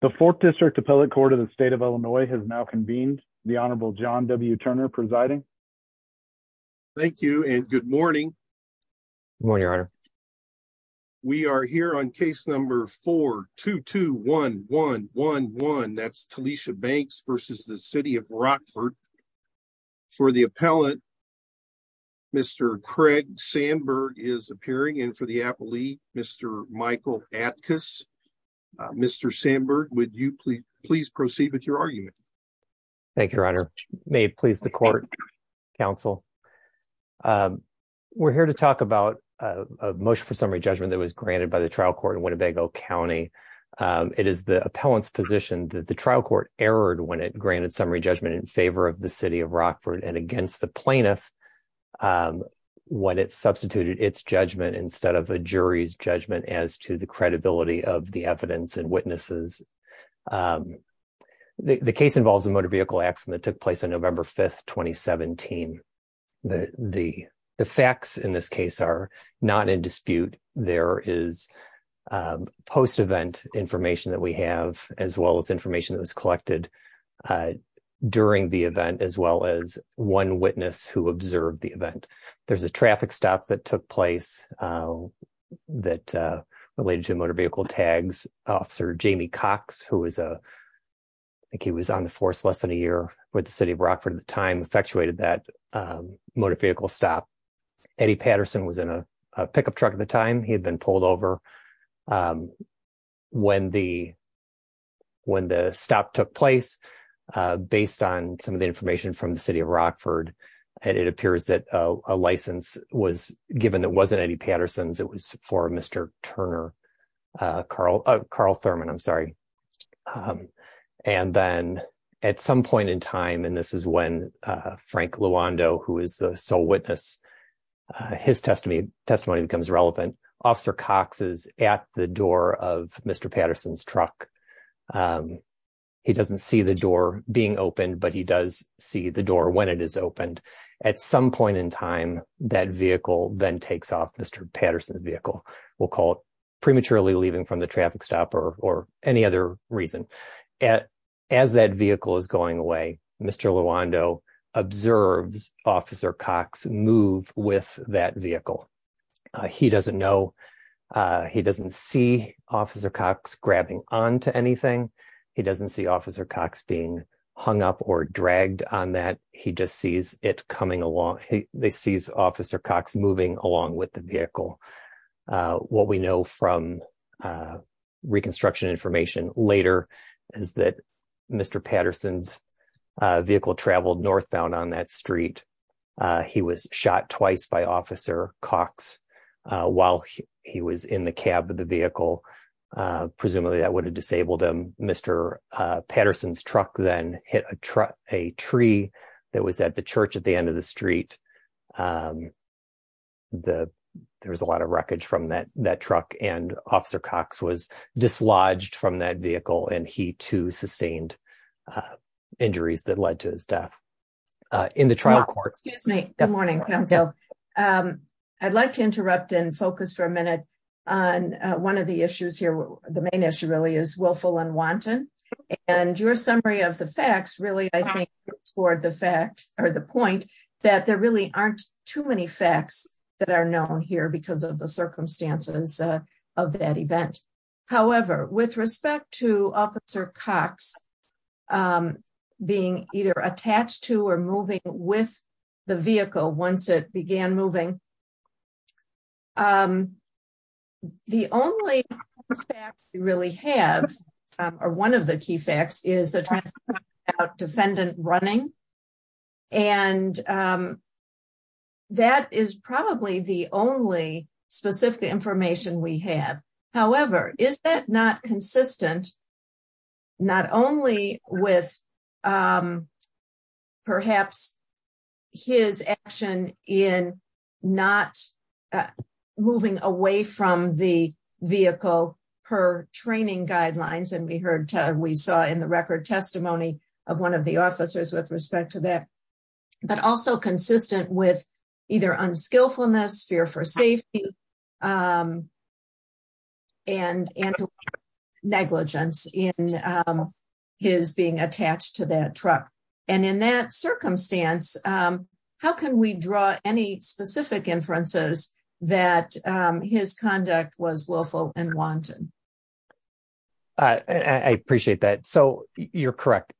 The fourth district appellate court of the state of Illinois has now convened the honorable John W. Turner presiding. Thank you and good morning. Good morning your honor. We are here on case number 4-221111 that's Talicia Banks versus the city of Rockford. For the appellate Mr. Craig Sandberg is appearing and for the appellee Mr. Michael Atkus. Mr. Sandberg would you please proceed with your argument? Thank you your honor. May it please the court counsel. We're here to talk about a motion for summary judgment that was granted by the trial court in Winnebago County. It is the appellant's position that the trial court erred when it granted summary judgment in favor of the city of Rockford and against the plaintiff when it substituted its judgment instead of a jury's judgment as to the credibility of the witnesses. The case involves a motor vehicle accident that took place on November 5, 2017. The facts in this case are not in dispute. There is post-event information that we have as well as information that was collected during the event as well as one witness who observed the event. There's a traffic stop that took place that related to motor vehicle tags officer Jamie Cox who was a I think he was on the force less than a year with the city of Rockford at the time effectuated that motor vehicle stop. Eddie Patterson was in a pickup truck at the time he had been pulled over when the when the stop took place based on some of the information from the city of Rockford and it appears that a license was given that wasn't Eddie Patterson's it was for Mr. Turner Carl Thurman I'm sorry and then at some point in time and this is when Frank Luando who is the sole witness his testimony testimony becomes relevant officer Cox is at the door of Mr. Patterson's truck. He doesn't see the door being opened but he does see the door when it is opened at some point in time that vehicle then takes off Mr. Patterson's vehicle we'll call it prematurely leaving from the traffic stop or any other reason as that vehicle is going away Mr. Luando observes officer Cox move with that vehicle. He doesn't know he doesn't see officer Cox grabbing on to anything he doesn't see officer Cox being hung up or dragged on that he just sees it coming along they sees officer Cox moving along with the vehicle. What we know from reconstruction information later is that Mr. Patterson's vehicle traveled northbound on that street. He was shot twice by officer Cox while he was in the cab of the vehicle presumably that would have disabled him Mr. Patterson's truck then hit a tree that was at the church at the end of the street. There was a lot of wreckage from that that truck and officer Cox was dislodged from that vehicle and he too sustained injuries that led to his death. In the trial court excuse me good morning I'd like to interrupt and focus for a minute on one of the issues here the main issue really is willful and wanton and your summary of the facts really I think toward the fact or the point that there really aren't too many facts that are known here because of the circumstances of that event. However with respect to officer Cox being either attached to or moving with the vehicle once it began moving. The only fact we really have or one of the key facts is the defendant running and that is probably the only specific information we have. However is that not consistent not only with perhaps his action in not moving away from the vehicle per training guidelines and we heard we saw in the record testimony of one of the officers with respect to that but also consistent with either unskillfulness fear for safety and negligence in his being attached to that truck and in that circumstance how can we draw any specific inferences that his conduct was willful and wanton. I appreciate that so you're correct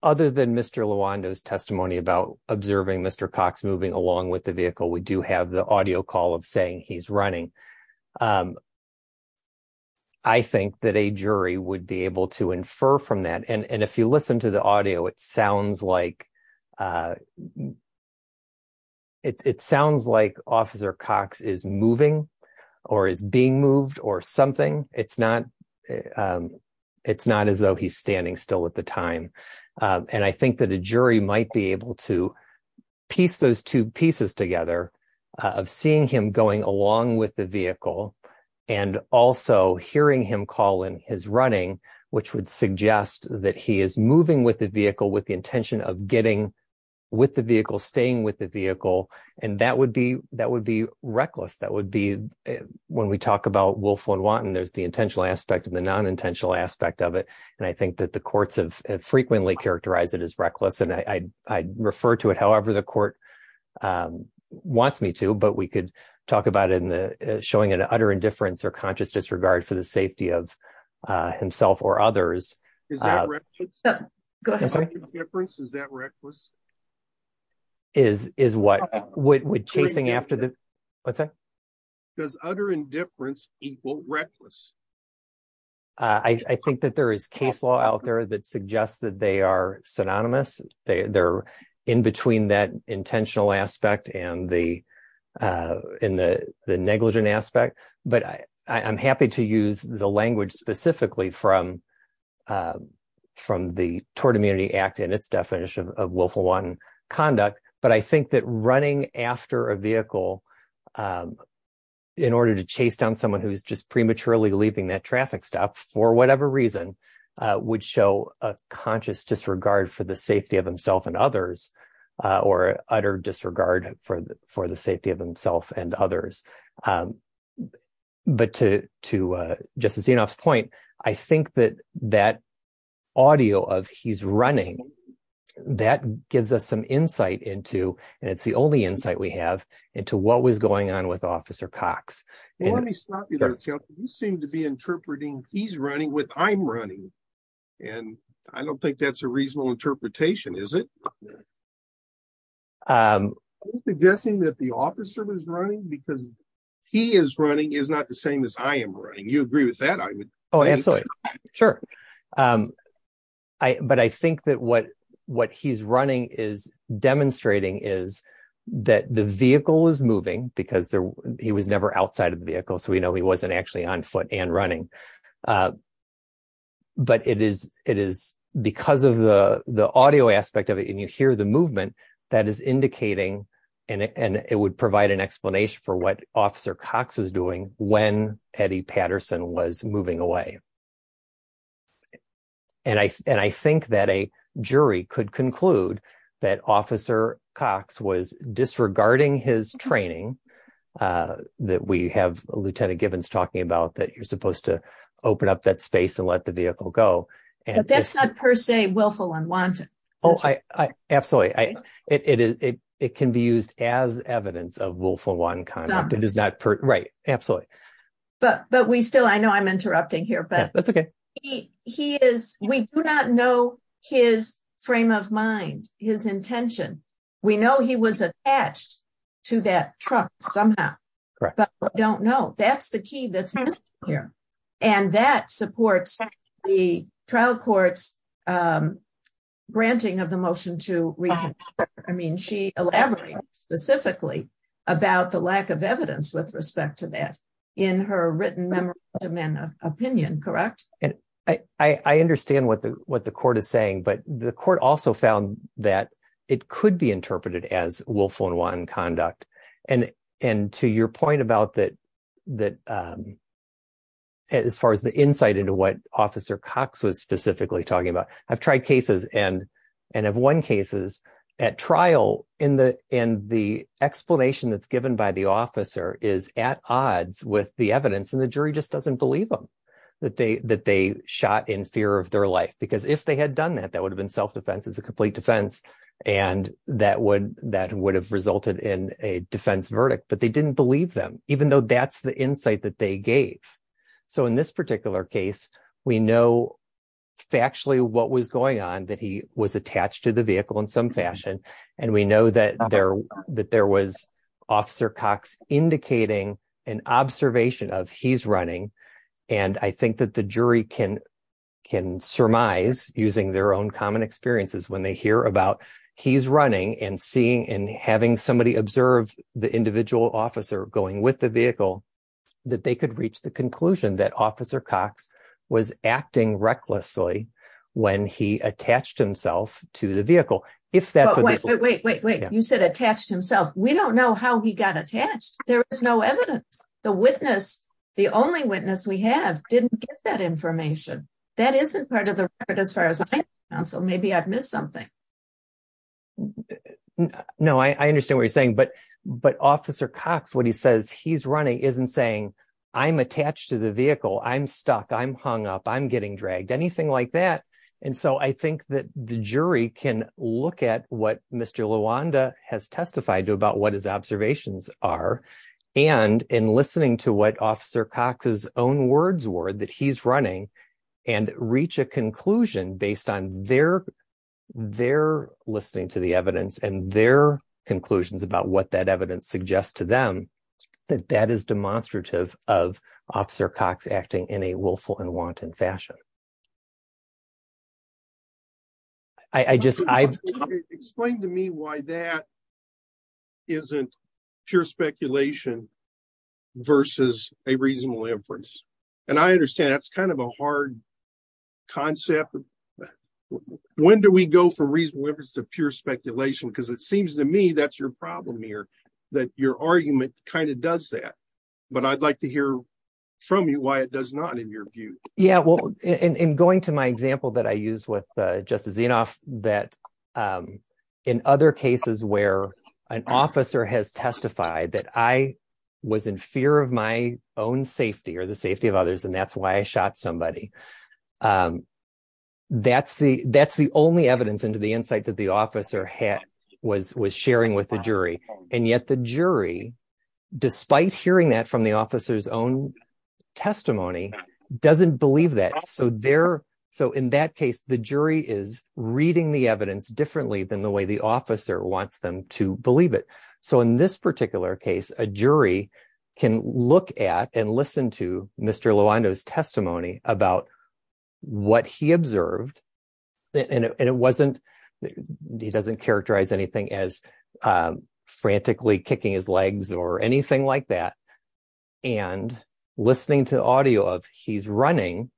other than Mr. Lawando's testimony about observing Mr. Cox moving along with the vehicle we do have the audio call of saying he's running. I think that a jury would be able to infer from that and and if you listen to the audio it sounds like it sounds like officer Cox is moving or is being moved or something it's not it's not as though he's standing still at the time and I think that a jury might be able to piece those two pieces together of seeing him going along with the vehicle and also hearing him call in his running which would suggest that he is moving with the vehicle with the intention of getting with the vehicle staying with the vehicle and that would be that would be reckless that would be when we talk about willful and wanton there's the intentional aspect of the non-intentional aspect of it and I think that the courts have frequently characterized it as reckless and I refer to it however the court wants me to but we could talk about it in the showing an utter indifference or conscious disregard for the safety of himself or others is that reckless is is what would chasing after the what's that does utter indifference equal reckless I think that there is case law out there that suggests that they are synonymous they they're in between that intentional aspect and the in the the negligent aspect but I I'm happy to use the language specifically from from the tort immunity act in its definition of willful one conduct but I think that running after a vehicle in order to chase down someone who's just prematurely leaving that traffic stop for whatever reason would show a conscious disregard for the safety of himself and others or utter disregard for the for the safety of himself and others um but to to uh justice xenoph's point I think that that audio of he's running that gives us some insight into and it's the only insight we have into what was going on with officer cox let me stop you there you seem to be interpreting he's running with i'm running and I don't think that's a reasonable interpretation is it um suggesting that the officer was running because he is running is not the same as I am running you agree with that I would oh absolutely sure um I but I think that what what he's running is demonstrating is that the vehicle is moving because there he was never outside of the vehicle we know he wasn't actually on foot and running uh but it is it is because of the the audio aspect of it and you hear the movement that is indicating and and it would provide an explanation for what officer cox was doing when eddie patterson was moving away and I and I think that a jury could that officer cox was disregarding his training uh that we have lieutenant gibbons talking about that you're supposed to open up that space and let the vehicle go and that's not per se willful unwanted oh I I absolutely I it is it it can be used as evidence of willful one conduct it is not per right absolutely but but we still I know I'm interrupting here but that's okay he he is we do not know his frame of mind his intention we know he was attached to that truck somehow but we don't know that's the key that's missing here and that supports the trial court's um granting of the motion to reconsider I mean she elaborated specifically about the lack of evidence with the court is saying but the court also found that it could be interpreted as willful and one conduct and and to your point about that that um as far as the insight into what officer cox was specifically talking about I've tried cases and and have won cases at trial in the in the explanation that's given by the officer is at odds with the evidence and the jury just doesn't that they that they shot in fear of their life because if they had done that that would have been self-defense as a complete defense and that would that would have resulted in a defense verdict but they didn't believe them even though that's the insight that they gave so in this particular case we know factually what was going on that he was attached to the vehicle in some fashion and we know that there that there was officer cox indicating an observation of he's running and I think that the jury can can surmise using their own common experiences when they hear about he's running and seeing and having somebody observe the individual officer going with the vehicle that they could reach the conclusion that officer cox was acting recklessly when he attached himself to the vehicle if that's what wait wait wait you said attached himself we don't know how he got attached there is no evidence the witness the only witness we have didn't get that information that isn't part of the record as far as I know so maybe I've missed something no I I understand what you're saying but but officer cox what he says he's running isn't saying I'm attached to the vehicle I'm stuck I'm hung up I'm getting dragged anything like that and so I think that the jury can look at what Mr. Lawanda has testified to about what his observations are and in listening to what officer cox's own words were that he's running and reach a conclusion based on their their listening to the evidence and their conclusions about what that evidence suggests to them that that is demonstrative of officer cox acting in a way that I I just I explained to me why that isn't pure speculation versus a reasonable inference and I understand that's kind of a hard concept when do we go for reasonable inference of pure speculation because it seems to me that's your problem here that your argument kind of does that but I'd like to hear from you why it does not in your view yeah well in in going to my example that I use with Justice Zinoff that in other cases where an officer has testified that I was in fear of my own safety or the safety of others and that's why I shot somebody that's the that's the only evidence into the insight that the officer had was was sharing with the jury and yet the jury despite hearing that from the officer's own testimony doesn't believe that so there so in that case the jury is reading the evidence differently than the way the officer wants them to believe it so in this particular case a jury can look at and listen to Mr. Lawanda's testimony about what he observed and it wasn't he doesn't characterize anything as frantically kicking his legs or anything like that and listening to the audio of he's running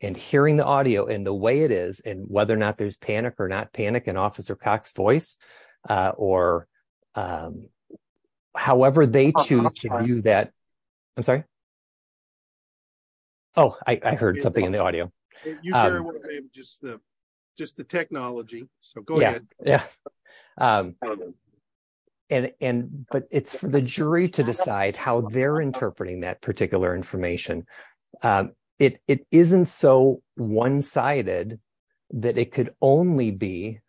and hearing the audio and the way it is and whether or not there's panic or not panic in Officer Cox's voice or however they choose to do that I'm sorry oh I heard something in the audio you just the just the technology so go ahead yeah and and but it's for the jury to decide how they're interpreting that particular information it it isn't so one-sided that it could only be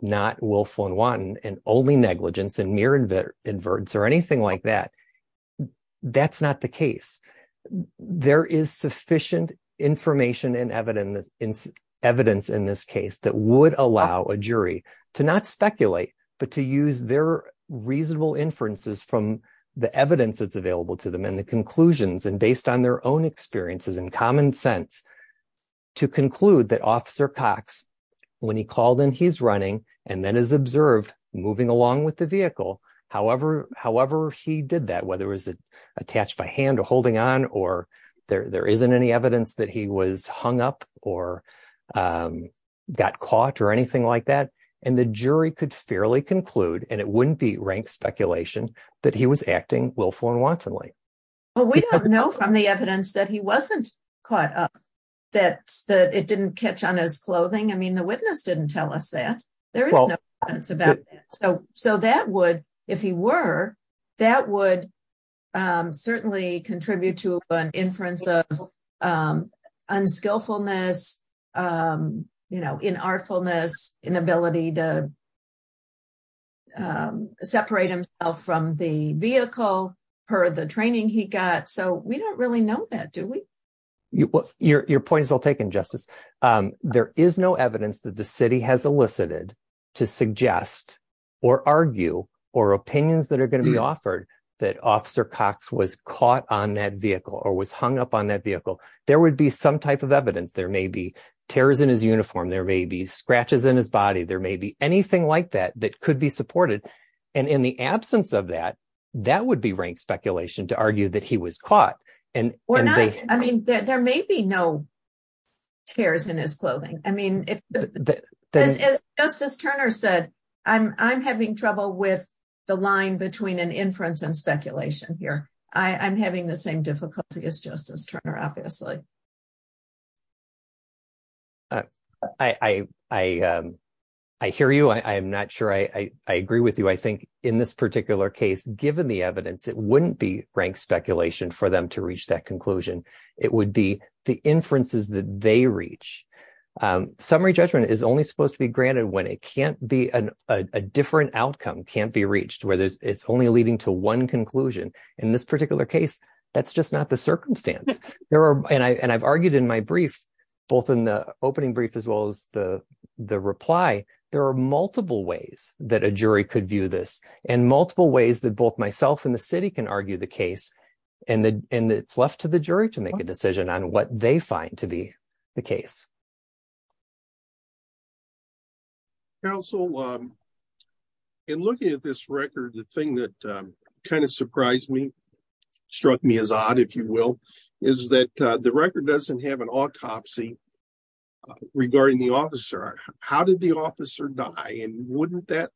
not willful and wanton and only negligence and mere inverts or anything like that that's not the case there is sufficient information and evidence in evidence in this case that would allow a jury to not speculate but to use their reasonable inferences from the evidence that's available to them and the conclusions and based on their own experiences and common sense to conclude that Officer Cox when he called and he's running and then is observed moving along with the vehicle however however he did that whether it was attached by hand or holding on or there there isn't any evidence that he was hung up or got caught or anything like that and the jury could fairly conclude and it wouldn't be ranked speculation that he was acting willful and wantonly well we don't know from the evidence that he wasn't caught up that that it didn't on his clothing I mean the witness didn't tell us that there is no evidence about that so so that would if he were that would certainly contribute to an inference of unskillfulness you know in artfulness inability to separate himself from the vehicle per the training he got so we don't really know that do we well your point is well taken justice there is no evidence that the city has elicited to suggest or argue or opinions that are going to be offered that Officer Cox was caught on that vehicle or was hung up on that vehicle there would be some type of evidence there may be tears in his uniform there may be scratches in his body there may be anything like that that could be supported and in the absence of that that would be ranked speculation to argue that he was caught and we're not I mean there may be no tears in his clothing I mean it's just as Turner said I'm I'm having trouble with the line between an inference and speculation here I I'm having the same difficulty as Justice Turner obviously uh I I um I hear you I I'm not sure I I agree with you I think in this particular case given the evidence it wouldn't be ranked speculation for them to reach that conclusion it would be the inferences that they reach summary judgment is only supposed to be granted when it can't be an a different outcome can't be reached where there's it's only leading to one conclusion in this particular case that's just not the circumstance there are and I and I've argued in my brief both in the opening brief as well as the the reply there are multiple ways that a jury could and multiple ways that both myself and the city can argue the case and the and it's left to the jury to make a decision on what they find to be the case counsel um in looking at this record the thing that kind of surprised me struck me as odd if you will is that the record doesn't have an autopsy regarding the officer how did the officer die and wouldn't that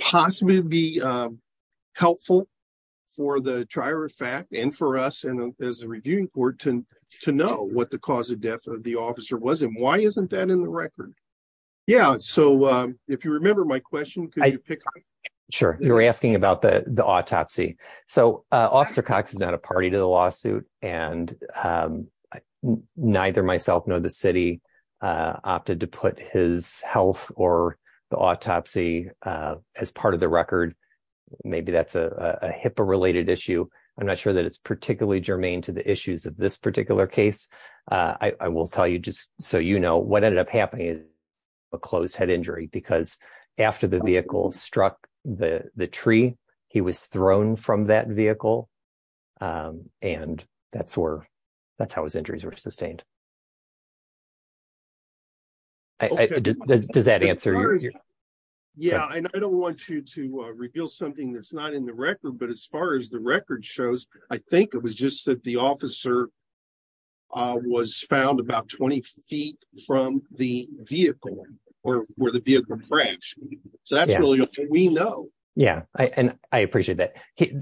possibly be um helpful for the trier of fact and for us and as a reviewing court to to know what the cause of death of the officer was and why isn't that in the record yeah so um if you remember my question could you pick up sure you're asking about the the autopsy so uh officer cox is not a party to the lawsuit and um neither myself nor the city uh opted to put his health or the autopsy uh as part of the record maybe that's a a hippo related issue i'm not sure that it's particularly germane to the issues of this particular case uh i will tell you just so you know what ended up happening is a closed head injury because after the vehicle struck the the tree he was thrown from that vehicle um and that's where that's how his injuries were sustained does that answer yeah i don't want you to uh reveal something that's not in the record but as far as the record shows i think it was just that the officer uh was found about 20 feet from the vehicle or where the vehicle crashed so that's really what we know yeah and i appreciate that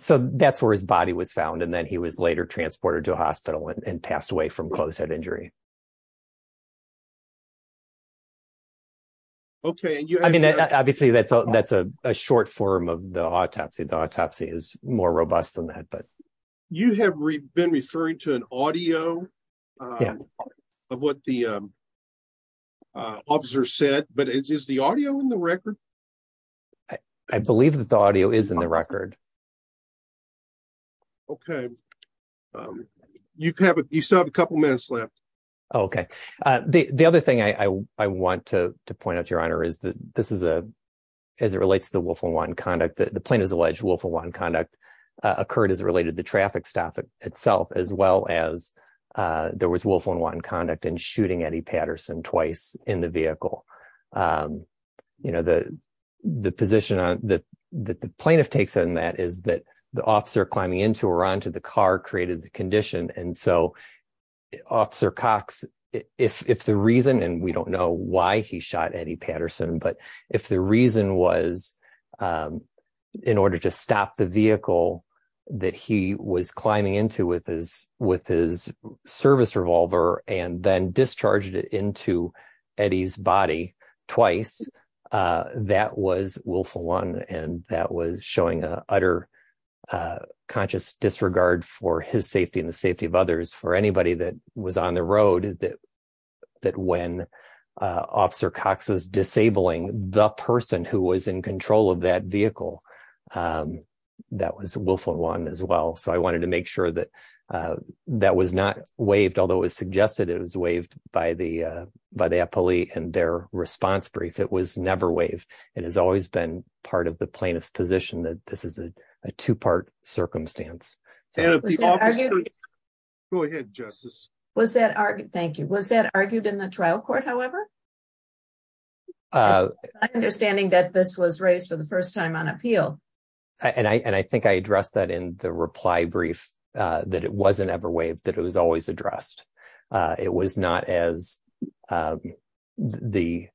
so that's where his body was found and then he was later transported to a hospital and passed away from close head injury okay i mean obviously that's a that's a short form of the autopsy the autopsy is been referring to an audio um of what the um uh officer said but is the audio in the record i believe that the audio is in the record okay um you have you still have a couple minutes left okay uh the the other thing i i want to to point out your honor is that this is a as it relates to the willful one conduct that the itself as well as uh there was willful unwanted conduct and shooting eddie patterson twice in the vehicle um you know the the position on that that the plaintiff takes in that is that the officer climbing into or onto the car created the condition and so officer cox if if the reason and we don't know why he shot eddie patterson but if the reason was um in order to stop the vehicle that he was climbing into with his with his service revolver and then discharged it into eddie's body twice uh that was willful one and that was showing a utter uh conscious disregard for his safety and the safety of others for anybody that was on the road that that when officer cox was disabling the person who was in control of that vehicle um that was willful one as well so i wanted to make sure that uh that was not waived although it was suggested it was waived by the uh by the appellee and their response brief it was never waived it has always been part of the plaintiff's position that this is a two-part circumstance so go ahead justice was that argued thank you was that argued in the trial court however uh understanding that this was raised for the first time on appeal and i and i think i addressed that in the reply brief uh that it wasn't ever waived that it was always addressed uh it was not as um the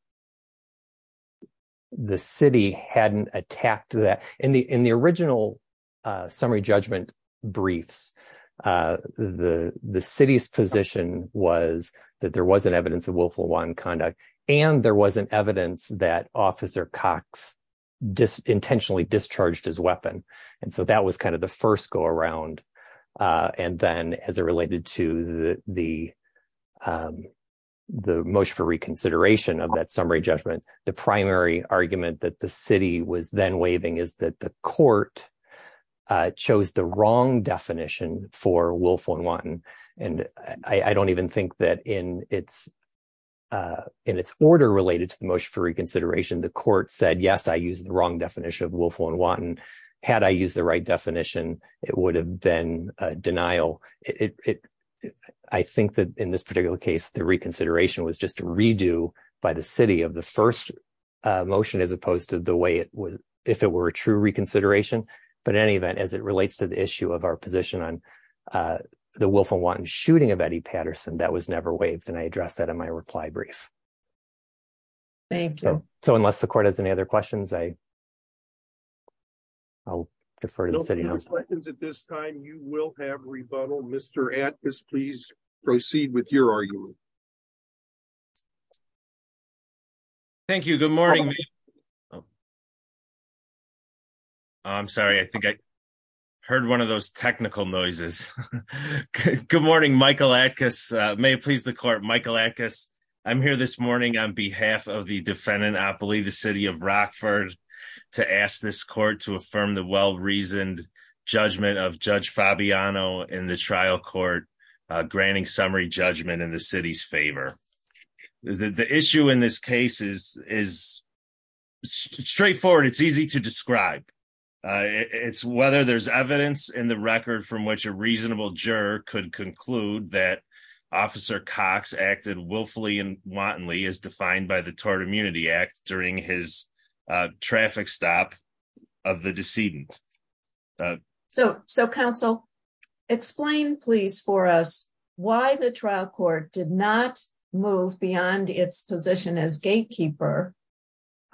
the city hadn't attacked that in the in the original uh summary judgment briefs uh the the city's position was that there wasn't evidence of willful one conduct and there wasn't evidence that officer cox just intentionally discharged his weapon and so that was kind of the first go around uh and then as it related to the the um the motion for reconsideration of that summary judgment the primary argument that the city was then waving is that the court uh chose the wrong definition for willful and wanton and i i don't even think that in its uh in its order related to the motion for reconsideration the court said yes i used the wrong definition of willful and wanton had i used the right definition it would have been a denial it i think that in this particular case the reconsideration was just a redo by the city of the first motion as opposed to the way it was if it were a true reconsideration but in any event as it relates to the issue of our position on uh the willful wanton shooting of eddie patterson that was never waived and i addressed that in my reply brief thank you so unless the court has any other questions i i'll defer to the city at this time you will have rebuttal mr at this please proceed with your argument thank you good morning i'm sorry i think i heard one of those technical noises good morning michael atkiss may it please the court michael atkiss i'm here this morning on behalf of the defendant i believe the city of rockford to ask this court to affirm the well reasoned judgment of judge fabiano in the trial court uh granting summary judgment in the city's favor the issue in this case is is straightforward it's easy to describe uh it's whether there's evidence in the record from which a reasonable juror could conclude that officer cox acted willfully and wantonly as defined by the tort immunity act during his traffic stop of the decedent so so counsel explain please for us why the trial court did not move beyond its position as gatekeeper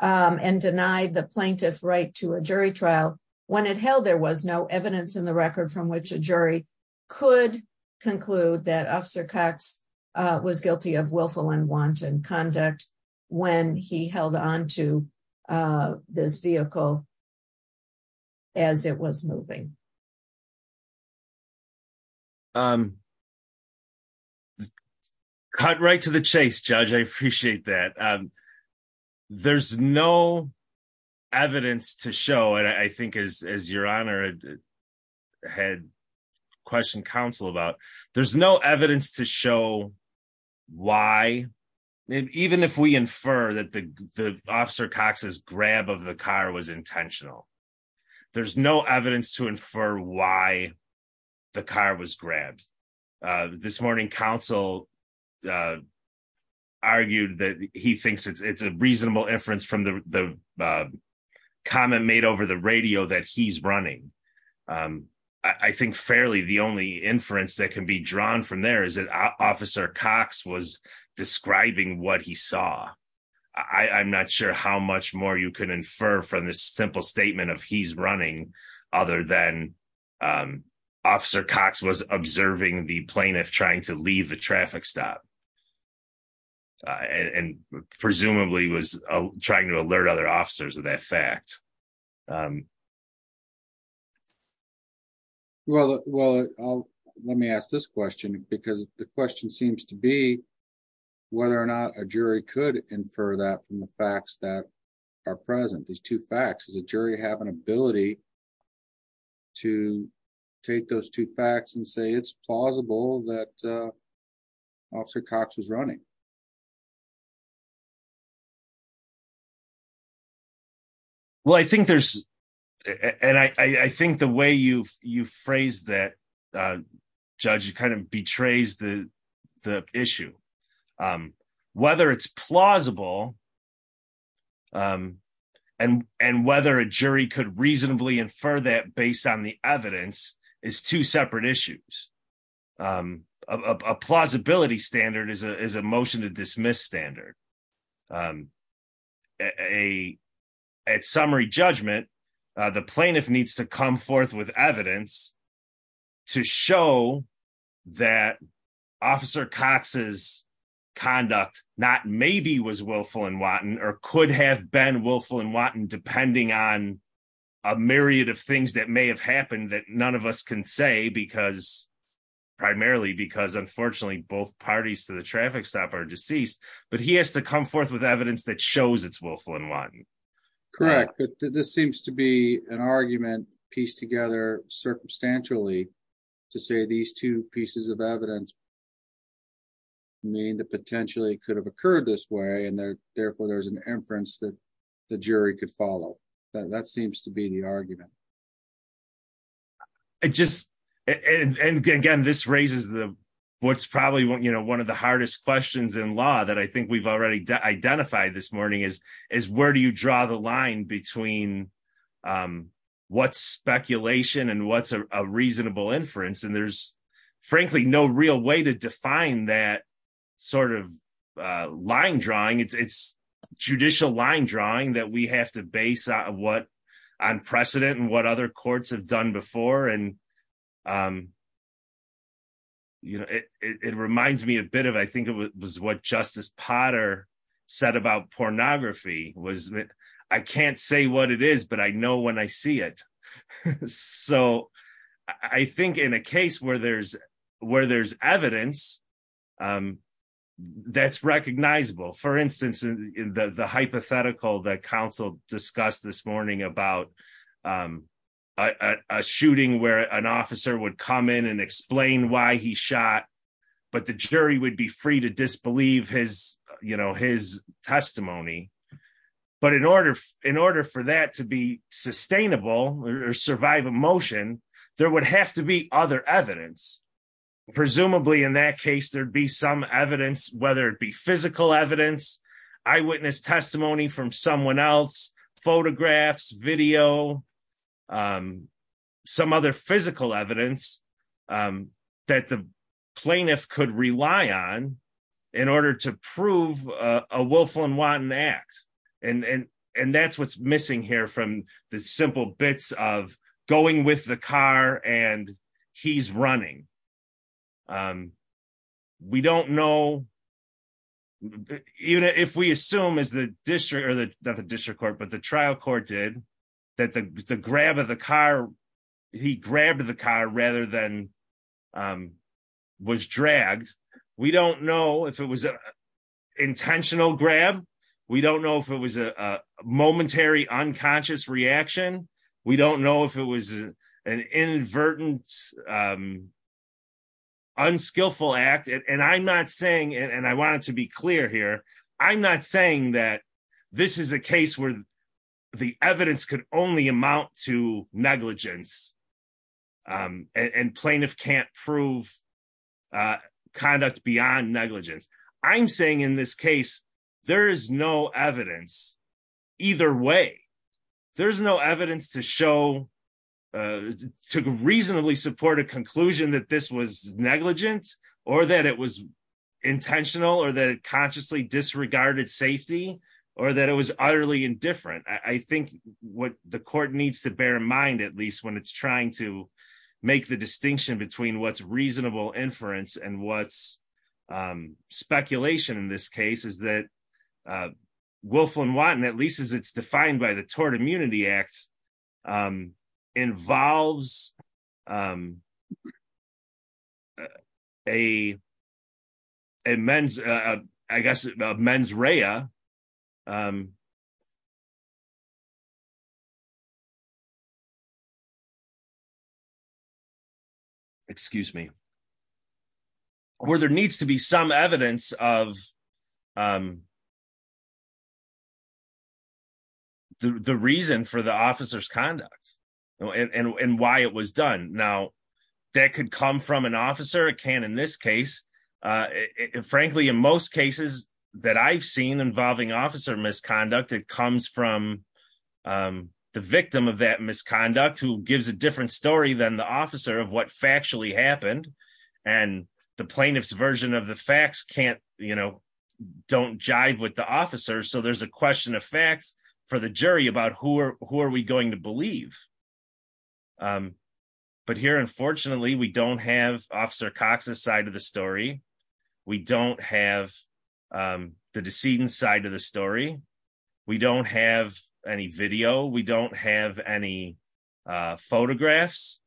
um and deny the plaintiff right to a jury trial when it held there was no evidence in the record from which a jury could conclude that officer cox uh was guilty of willful and wanton conduct when he held on to uh this vehicle as it was moving um cut right to the chase judge i appreciate that um there's no evidence to show and i think as as your honor had questioned counsel about there's no evidence to show why even if we infer that the the officer cox's grab of the car was intentional there's no evidence to infer why the car was he thinks it's a reasonable inference from the the comment made over the radio that he's running um i think fairly the only inference that can be drawn from there is that officer cox was describing what he saw i i'm not sure how much more you could infer from this simple statement of he's running other than um officer cox was observing the plaintiff trying to leave a traffic stop and presumably was trying to alert other officers of that fact um well well i'll let me ask this question because the question seems to be whether or not a jury could infer that from the facts that are present these two facts does the jury have an ability to take those two facts and say it's plausible that uh officer cox was running well i think there's and i i think the way you you phrase that uh judge kind of betrays the the issue um whether it's plausible um and and whether a jury could reasonably infer that based on the evidence is two separate issues um a plausibility standard is a is a motion to dismiss standard um a at summary judgment the plaintiff needs to come forth with evidence to show that officer cox's conduct not maybe was willful and wanton or could have been willful and wanton depending on a myriad of things that may have happened that none of us can say because primarily because unfortunately both parties to the traffic stop are deceased but he has to come forth with evidence that shows it's willful and wanton correct but this seems to be an argument pieced together circumstantially to say these two pieces of evidence mean that potentially it could have occurred this way and therefore there's an inference that the jury could follow that seems to be the argument it just and and again this raises the what's probably what you know of the hardest questions in law that i think we've already identified this morning is is where do you draw the line between um what's speculation and what's a reasonable inference and there's frankly no real way to define that sort of uh line drawing it's judicial line drawing that we have to base on what on precedent and what other courts have done before and um you know it it me a bit of i think it was what justice potter said about pornography was i can't say what it is but i know when i see it so i think in a case where there's where there's evidence um that's recognizable for instance in the the hypothetical that council discussed this morning about um a shooting where an officer would come in and explain why he shot but the jury would be free to disbelieve his you know his testimony but in order in order for that to be sustainable or survive emotion there would have to be other evidence presumably in that case there'd be some evidence whether it be physical evidence eyewitness testimony from someone else photographs video um some other physical evidence um that the plaintiff could rely on in order to prove a willful and wanton act and and and that's what's missing here from the simple bits of going with the car and he's running um we don't know even if we assume is the district or the district court but trial court did that the grab of the car he grabbed the car rather than um was dragged we don't know if it was an intentional grab we don't know if it was a momentary unconscious reaction we don't know if it was an inadvertent um unskillful act and i'm not saying and i want to be clear here i'm not saying that this is a case where the evidence could only amount to negligence um and plaintiff can't prove uh conduct beyond negligence i'm saying in this case there is no evidence either way there's no evidence to show uh to reasonably support a consciously disregarded safety or that it was utterly indifferent i think what the court needs to bear in mind at least when it's trying to make the distinction between what's reasonable inference and what's um speculation in this case is that uh willful and wanton at least as it's defined by the i guess mens rea um excuse me where there needs to be some evidence of um the reason for the officer's conduct and and why it was done now that could come from an officer can in this case uh frankly in most cases that i've seen involving officer misconduct it comes from um the victim of that misconduct who gives a different story than the officer of what factually happened and the plaintiff's version of the facts can't you know don't jive with the officer so there's a question of facts for the jury about who are who are we going to believe um but here unfortunately we don't have officer cox's side of the story we don't have um the decedent side of the story we don't have any video we don't have any uh photographs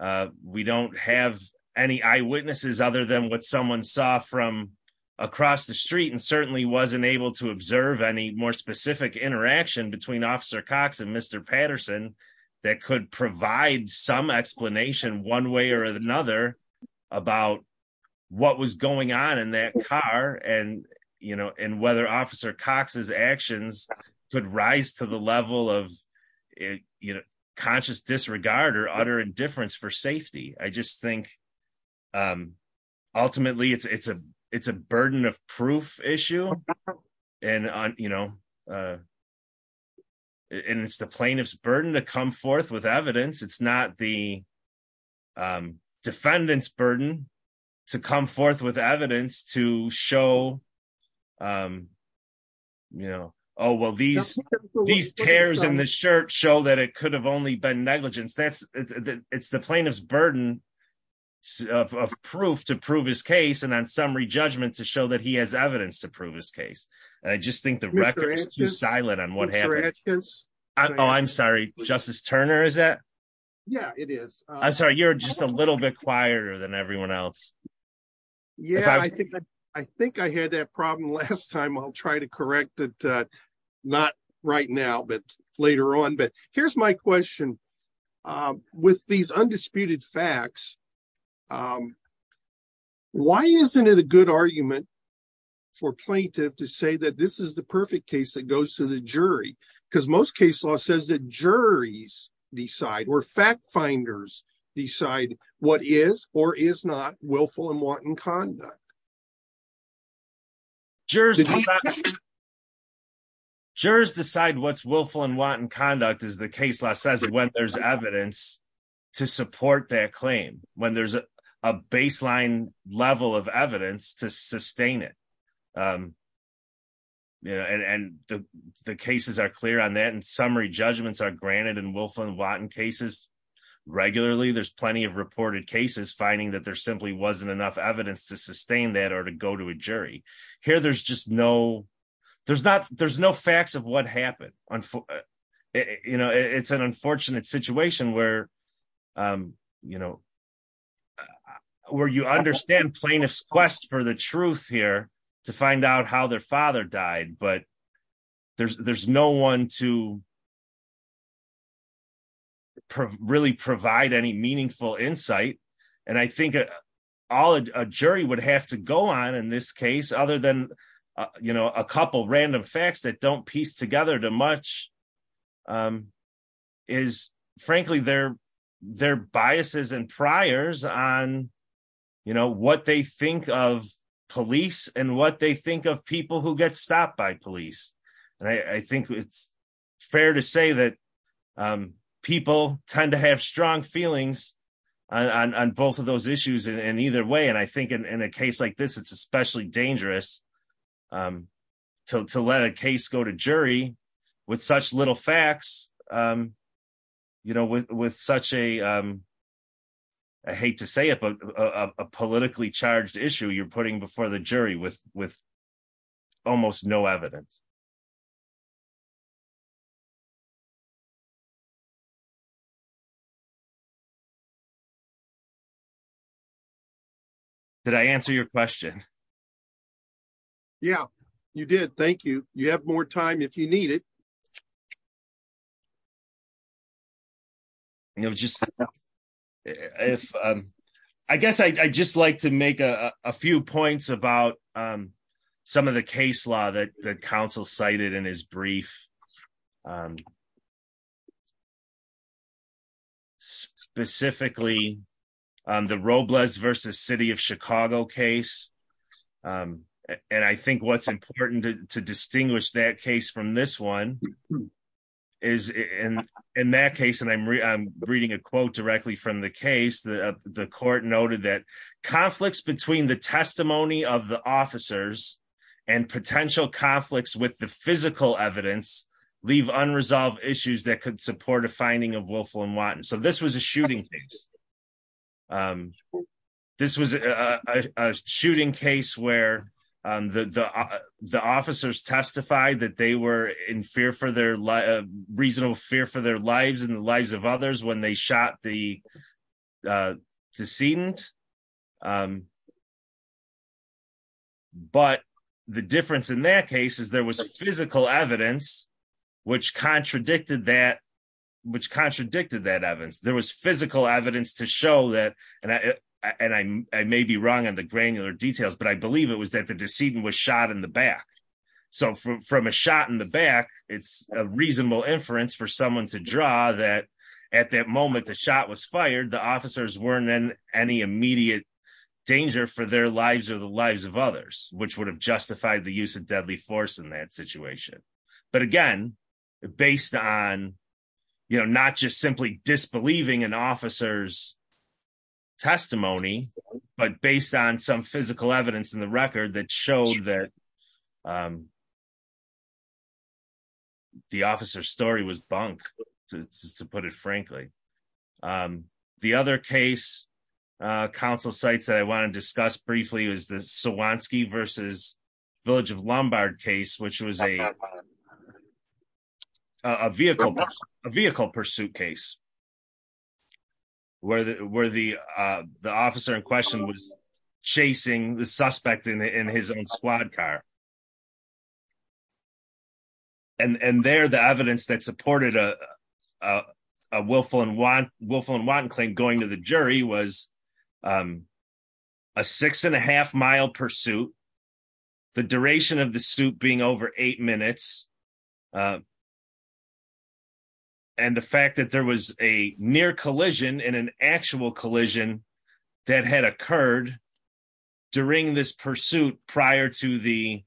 uh we don't have any eyewitnesses other than what someone saw from across the street and certainly wasn't able to that could provide some explanation one way or another about what was going on in that car and you know and whether officer cox's actions could rise to the level of you know conscious disregard or utter indifference for safety i just think um ultimately it's it's a it's a burden of it's not the um defendant's burden to come forth with evidence to show um you know oh well these these tears in the shirt show that it could have only been negligence that's it's the plaintiff's burden of proof to prove his case and on summary judgment to show that he has evidence to prove his case and i just think the record is too silent on what happened oh i'm sorry justice turner is that yeah it is i'm sorry you're just a little bit quieter than everyone else yeah i think i think i had that problem last time i'll try to correct it uh not right now but later on but here's my question um with these undisputed facts um why isn't it a good argument for plaintiff to say that this is the perfect case that goes to the jury because most case law says that juries decide or fact finders decide what is or is not willful and wanton conduct jurors decide what's willful and wanton conduct is the case law says when there's evidence to support that claim when there's a baseline level of the cases are clear on that and summary judgments are granted and willful and wanton cases regularly there's plenty of reported cases finding that there simply wasn't enough evidence to sustain that or to go to a jury here there's just no there's not there's no facts of what happened you know it's an unfortunate situation where um you know where you understand plaintiff's for the truth here to find out how their father died but there's there's no one to really provide any meaningful insight and i think all a jury would have to go on in this case other than you know a couple random facts that don't piece together too much um is frankly their their think of police and what they think of people who get stopped by police and i i think it's fair to say that um people tend to have strong feelings on on both of those issues and either way and i think in a case like this it's especially dangerous um to let a case go to jury with such little facts um you know with with such a um i hate to say it but a politically charged issue you're putting before the jury with with almost no evidence did i answer your question yeah you did thank you you have more time if you need it you know just if um i guess i i just like to make a a few points about um some of the case law that the council cited in his brief um specifically the robles versus city of chicago case um and i think what's important to distinguish that case from this one is in in that case and i'm i'm reading a quote directly from the case the the court noted that conflicts between the testimony of the officers and potential conflicts with the physical evidence leave unresolved issues that could support a finding of willful and wanton so this was a shooting case um this was a a shooting case where um the the the officers testified that they were in fear for their life reasonable fear for their lives and the lives of others when they shot the decedent um but the difference in that case is there was physical evidence which contradicted that which contradicted that evidence there was physical evidence to show that and i and i i may be wrong on the granular details but i believe it was that the decedent was shot in the back so from a shot in the back it's a reasonable inference for someone to draw that at that moment the shot was fired the officers weren't in any immediate danger for their lives or the lives of others which would have justified the use of deadly force in that situation but again based on you know not just simply disbelieving an officer's testimony but based on some physical evidence in the record that showed that um officer's story was bunk to put it frankly um the other case uh council sites that i want to discuss briefly was the swanski versus village of lombard case which was a a vehicle a vehicle pursuit case where the where the uh the officer in question was chasing the suspect in his own squad car and and there the evidence that supported a a willful and want willful and wanton claim going to the jury was um a six and a half mile pursuit the duration of the suit being over eight minutes and the fact that there was a near collision in an actual collision that had occurred during this pursuit prior to the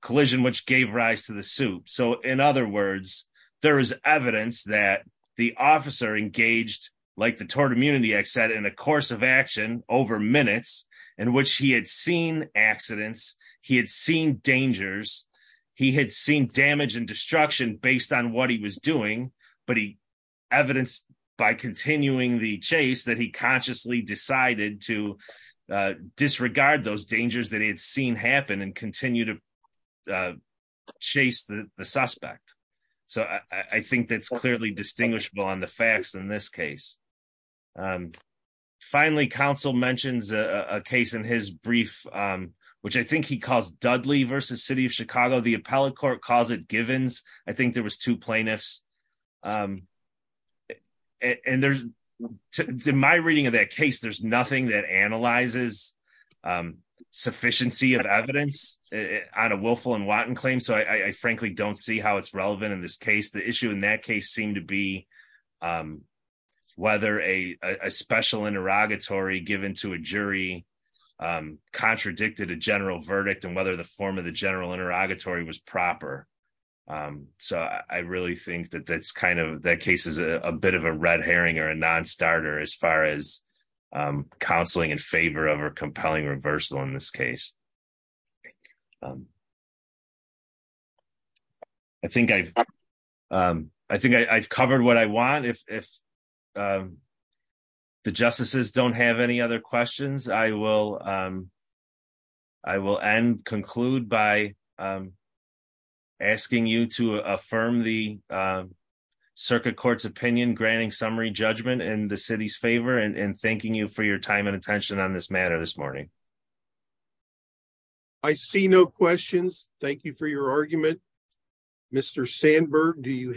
collision which gave rise to the suit so in other words there is evidence that the officer engaged like the tort immunity act said in a course of action over minutes in which he had seen accidents he had seen dangers he had seen damage and destruction based on what he was doing but he evidenced by continuing the chase that he consciously decided to uh disregard those dangers that he had seen happen and continue to uh chase the the suspect so i i think that's clearly distinguishable on the facts in this case um finally council mentions a a case in his brief um which i think he calls dudley versus city of chicago the appellate court calls it givens i think there was two plaintiffs um and there's in my reading of that case there's nothing that analyzes sufficiency of evidence on a willful and wanton claim so i i frankly don't see how it's relevant in this case the issue in that case seemed to be um whether a a special interrogatory given to a jury um contradicted a general verdict and whether the form of the general interrogatory was proper um so i really think that that's kind of that case is a bit of a red herring or a non-starter as far as um counseling in favor of a compelling reversal in this case i think i've um i think i i've covered what i want if if um the justices don't have any other questions i will um i will end conclude by um asking you to affirm the um circuit court's opinion granting summary judgment in the city's favor and thanking you for your time and attention on this matter this morning i see no questions thank you for your argument mr sandberg do you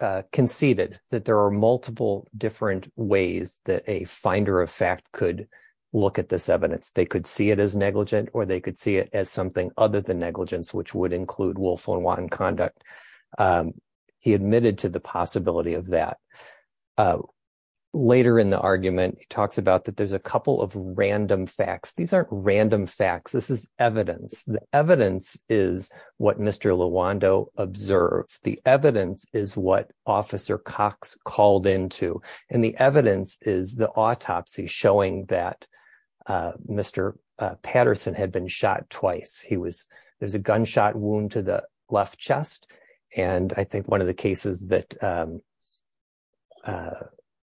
uh conceded that there are multiple different ways that a finder of fact could look at this evidence they could see it as negligent or they could see it as something other than negligence which would include willful and wanton conduct um he admitted to the possibility of that later in the argument he talks about that there's a couple of random facts these aren't random facts this is evidence the evidence is what mr lawando observed the evidence is what officer cox called into and the evidence is the autopsy showing that uh mr patterson had been shot twice he was there's a gunshot wound to the left chest and i think one of the cases that um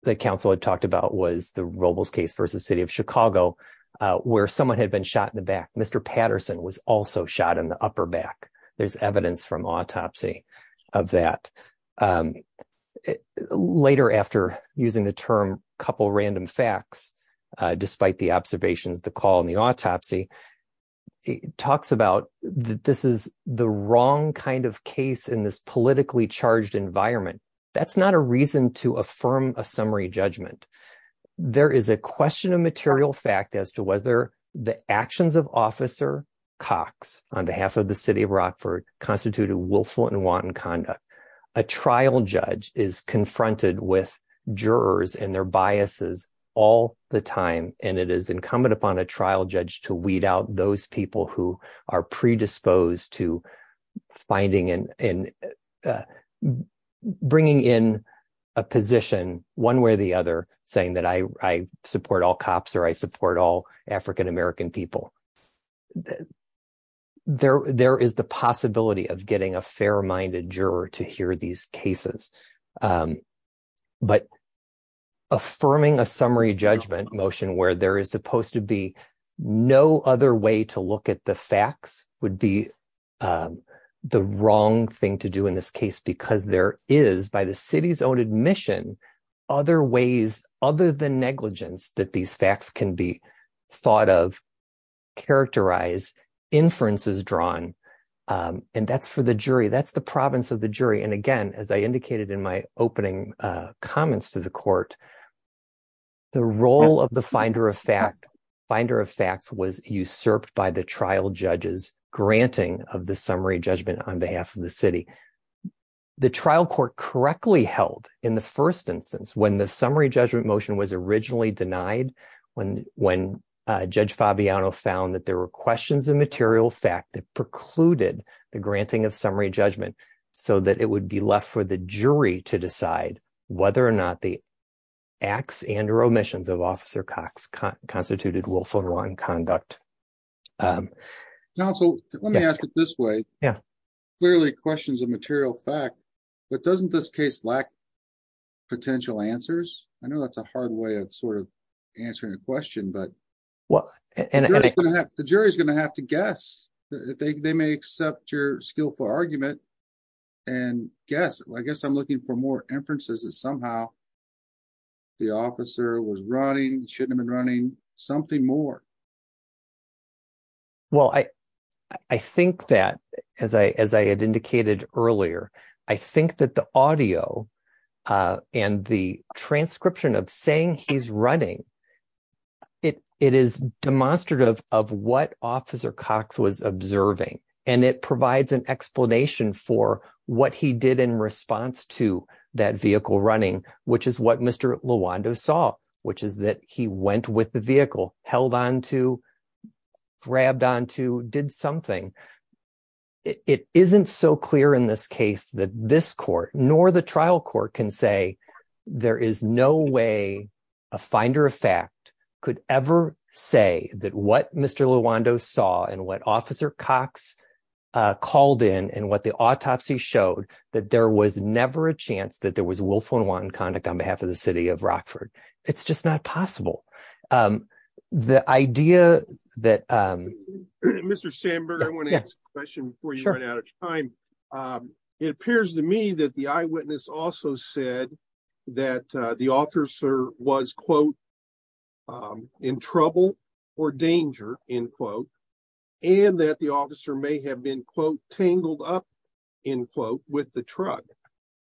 the council had talked about was the robles case versus city of chicago where someone had been shot in the back mr patterson was also shot in the upper back there's evidence from autopsy of that um later after using the term couple random facts despite the observations the call in the autopsy he talks about that this is the wrong kind of case in this politically charged environment that's not a reason to affirm a summary judgment there is a question of material fact as to whether the actions of officer cox on behalf of the city of rockford constituted willful and wanton conduct a trial judge is confronted with jurors and their biases all the time and it is incumbent upon a trial judge to weed out those people who are predisposed to finding and bringing in a position one way or the other saying that i i support all cops or i support all african-american people there there is the possibility of getting a fair-minded juror to hear these cases um but affirming a summary judgment motion where there is supposed to be no other way to look at the facts would be um the wrong thing to do in this case because there is by the city's own admission other ways other than negligence that these facts can be thought of characterized inferences drawn um and that's for the jury that's the province of the opening uh comments to the court the role of the finder of fact finder of facts was usurped by the trial judges granting of the summary judgment on behalf of the city the trial court correctly held in the first instance when the summary judgment motion was originally denied when when uh judge fabiano found that there were questions of material fact that precluded the granting of jury to decide whether or not the acts and or omissions of officer cox constituted willful wrong conduct um now so let me ask it this way yeah clearly questions of material fact but doesn't this case lack potential answers i know that's a hard way of sort of answering a question but well and the jury's going to have to guess that they may accept your skillful argument and guess i guess i'm looking for more inferences that somehow the officer was running shouldn't have been running something more well i i think that as i as i had indicated earlier i think that the audio uh and the transcription of saying he's running it it is demonstrative of what officer cox was observing and it provides an explanation for what he did in response to that vehicle running which is what mr luando saw which is that he went with the vehicle held on to grabbed on to did something it isn't so clear in this case that this court nor the trial court can say there is no way a finder of fact could ever say that what mr luando saw and what officer cox uh called in and what the autopsy showed that there was never a chance that there was willful unwanted conduct on behalf of the city of rockford it's just not possible um the idea that um mr sandberg i want to ask a question before you run out of time um it appears to me that the eyewitness also said that the officer was quote um in trouble or danger in quote and that the officer may have been quote tangled up in quote with the truck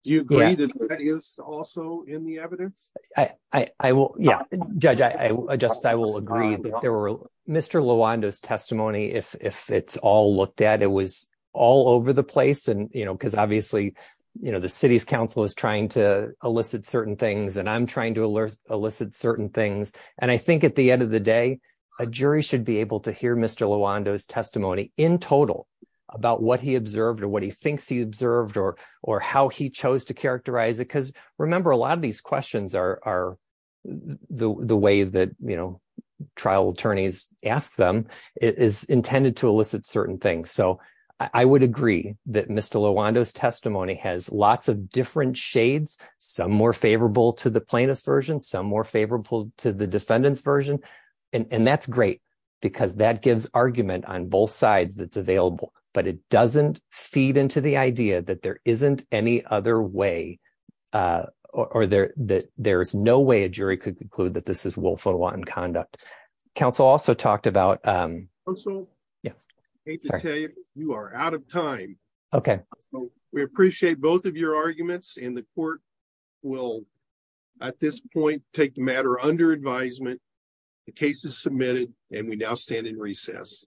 you agree that that is also in the evidence i i i will yeah judge i i just i will agree that there were mr lawando's testimony if if it's all looked at it was all over the place and you know because obviously you know the city's council is trying to elicit certain things and i'm trying to elicit certain things and i think at the end of the day a jury should be able to hear mr lawando's testimony in total about what he observed or what he thinks he observed or or how he chose to characterize it because remember a lot of these questions are are the the way that you know trial attorneys ask them is intended to elicit certain things so i would agree that mr lawando's testimony has lots of different shades some more favorable to the plaintiff's version some more favorable to the defendant's version and that's great because that gives argument on both sides that's available but it doesn't feed into the idea that there isn't any other way uh or there that there's no way a jury could conclude that this is willful and conduct council also talked about um also yeah you are out of time okay we appreciate both of your arguments and the court will at this point take the matter under advisement the case is submitted and we now stand in recess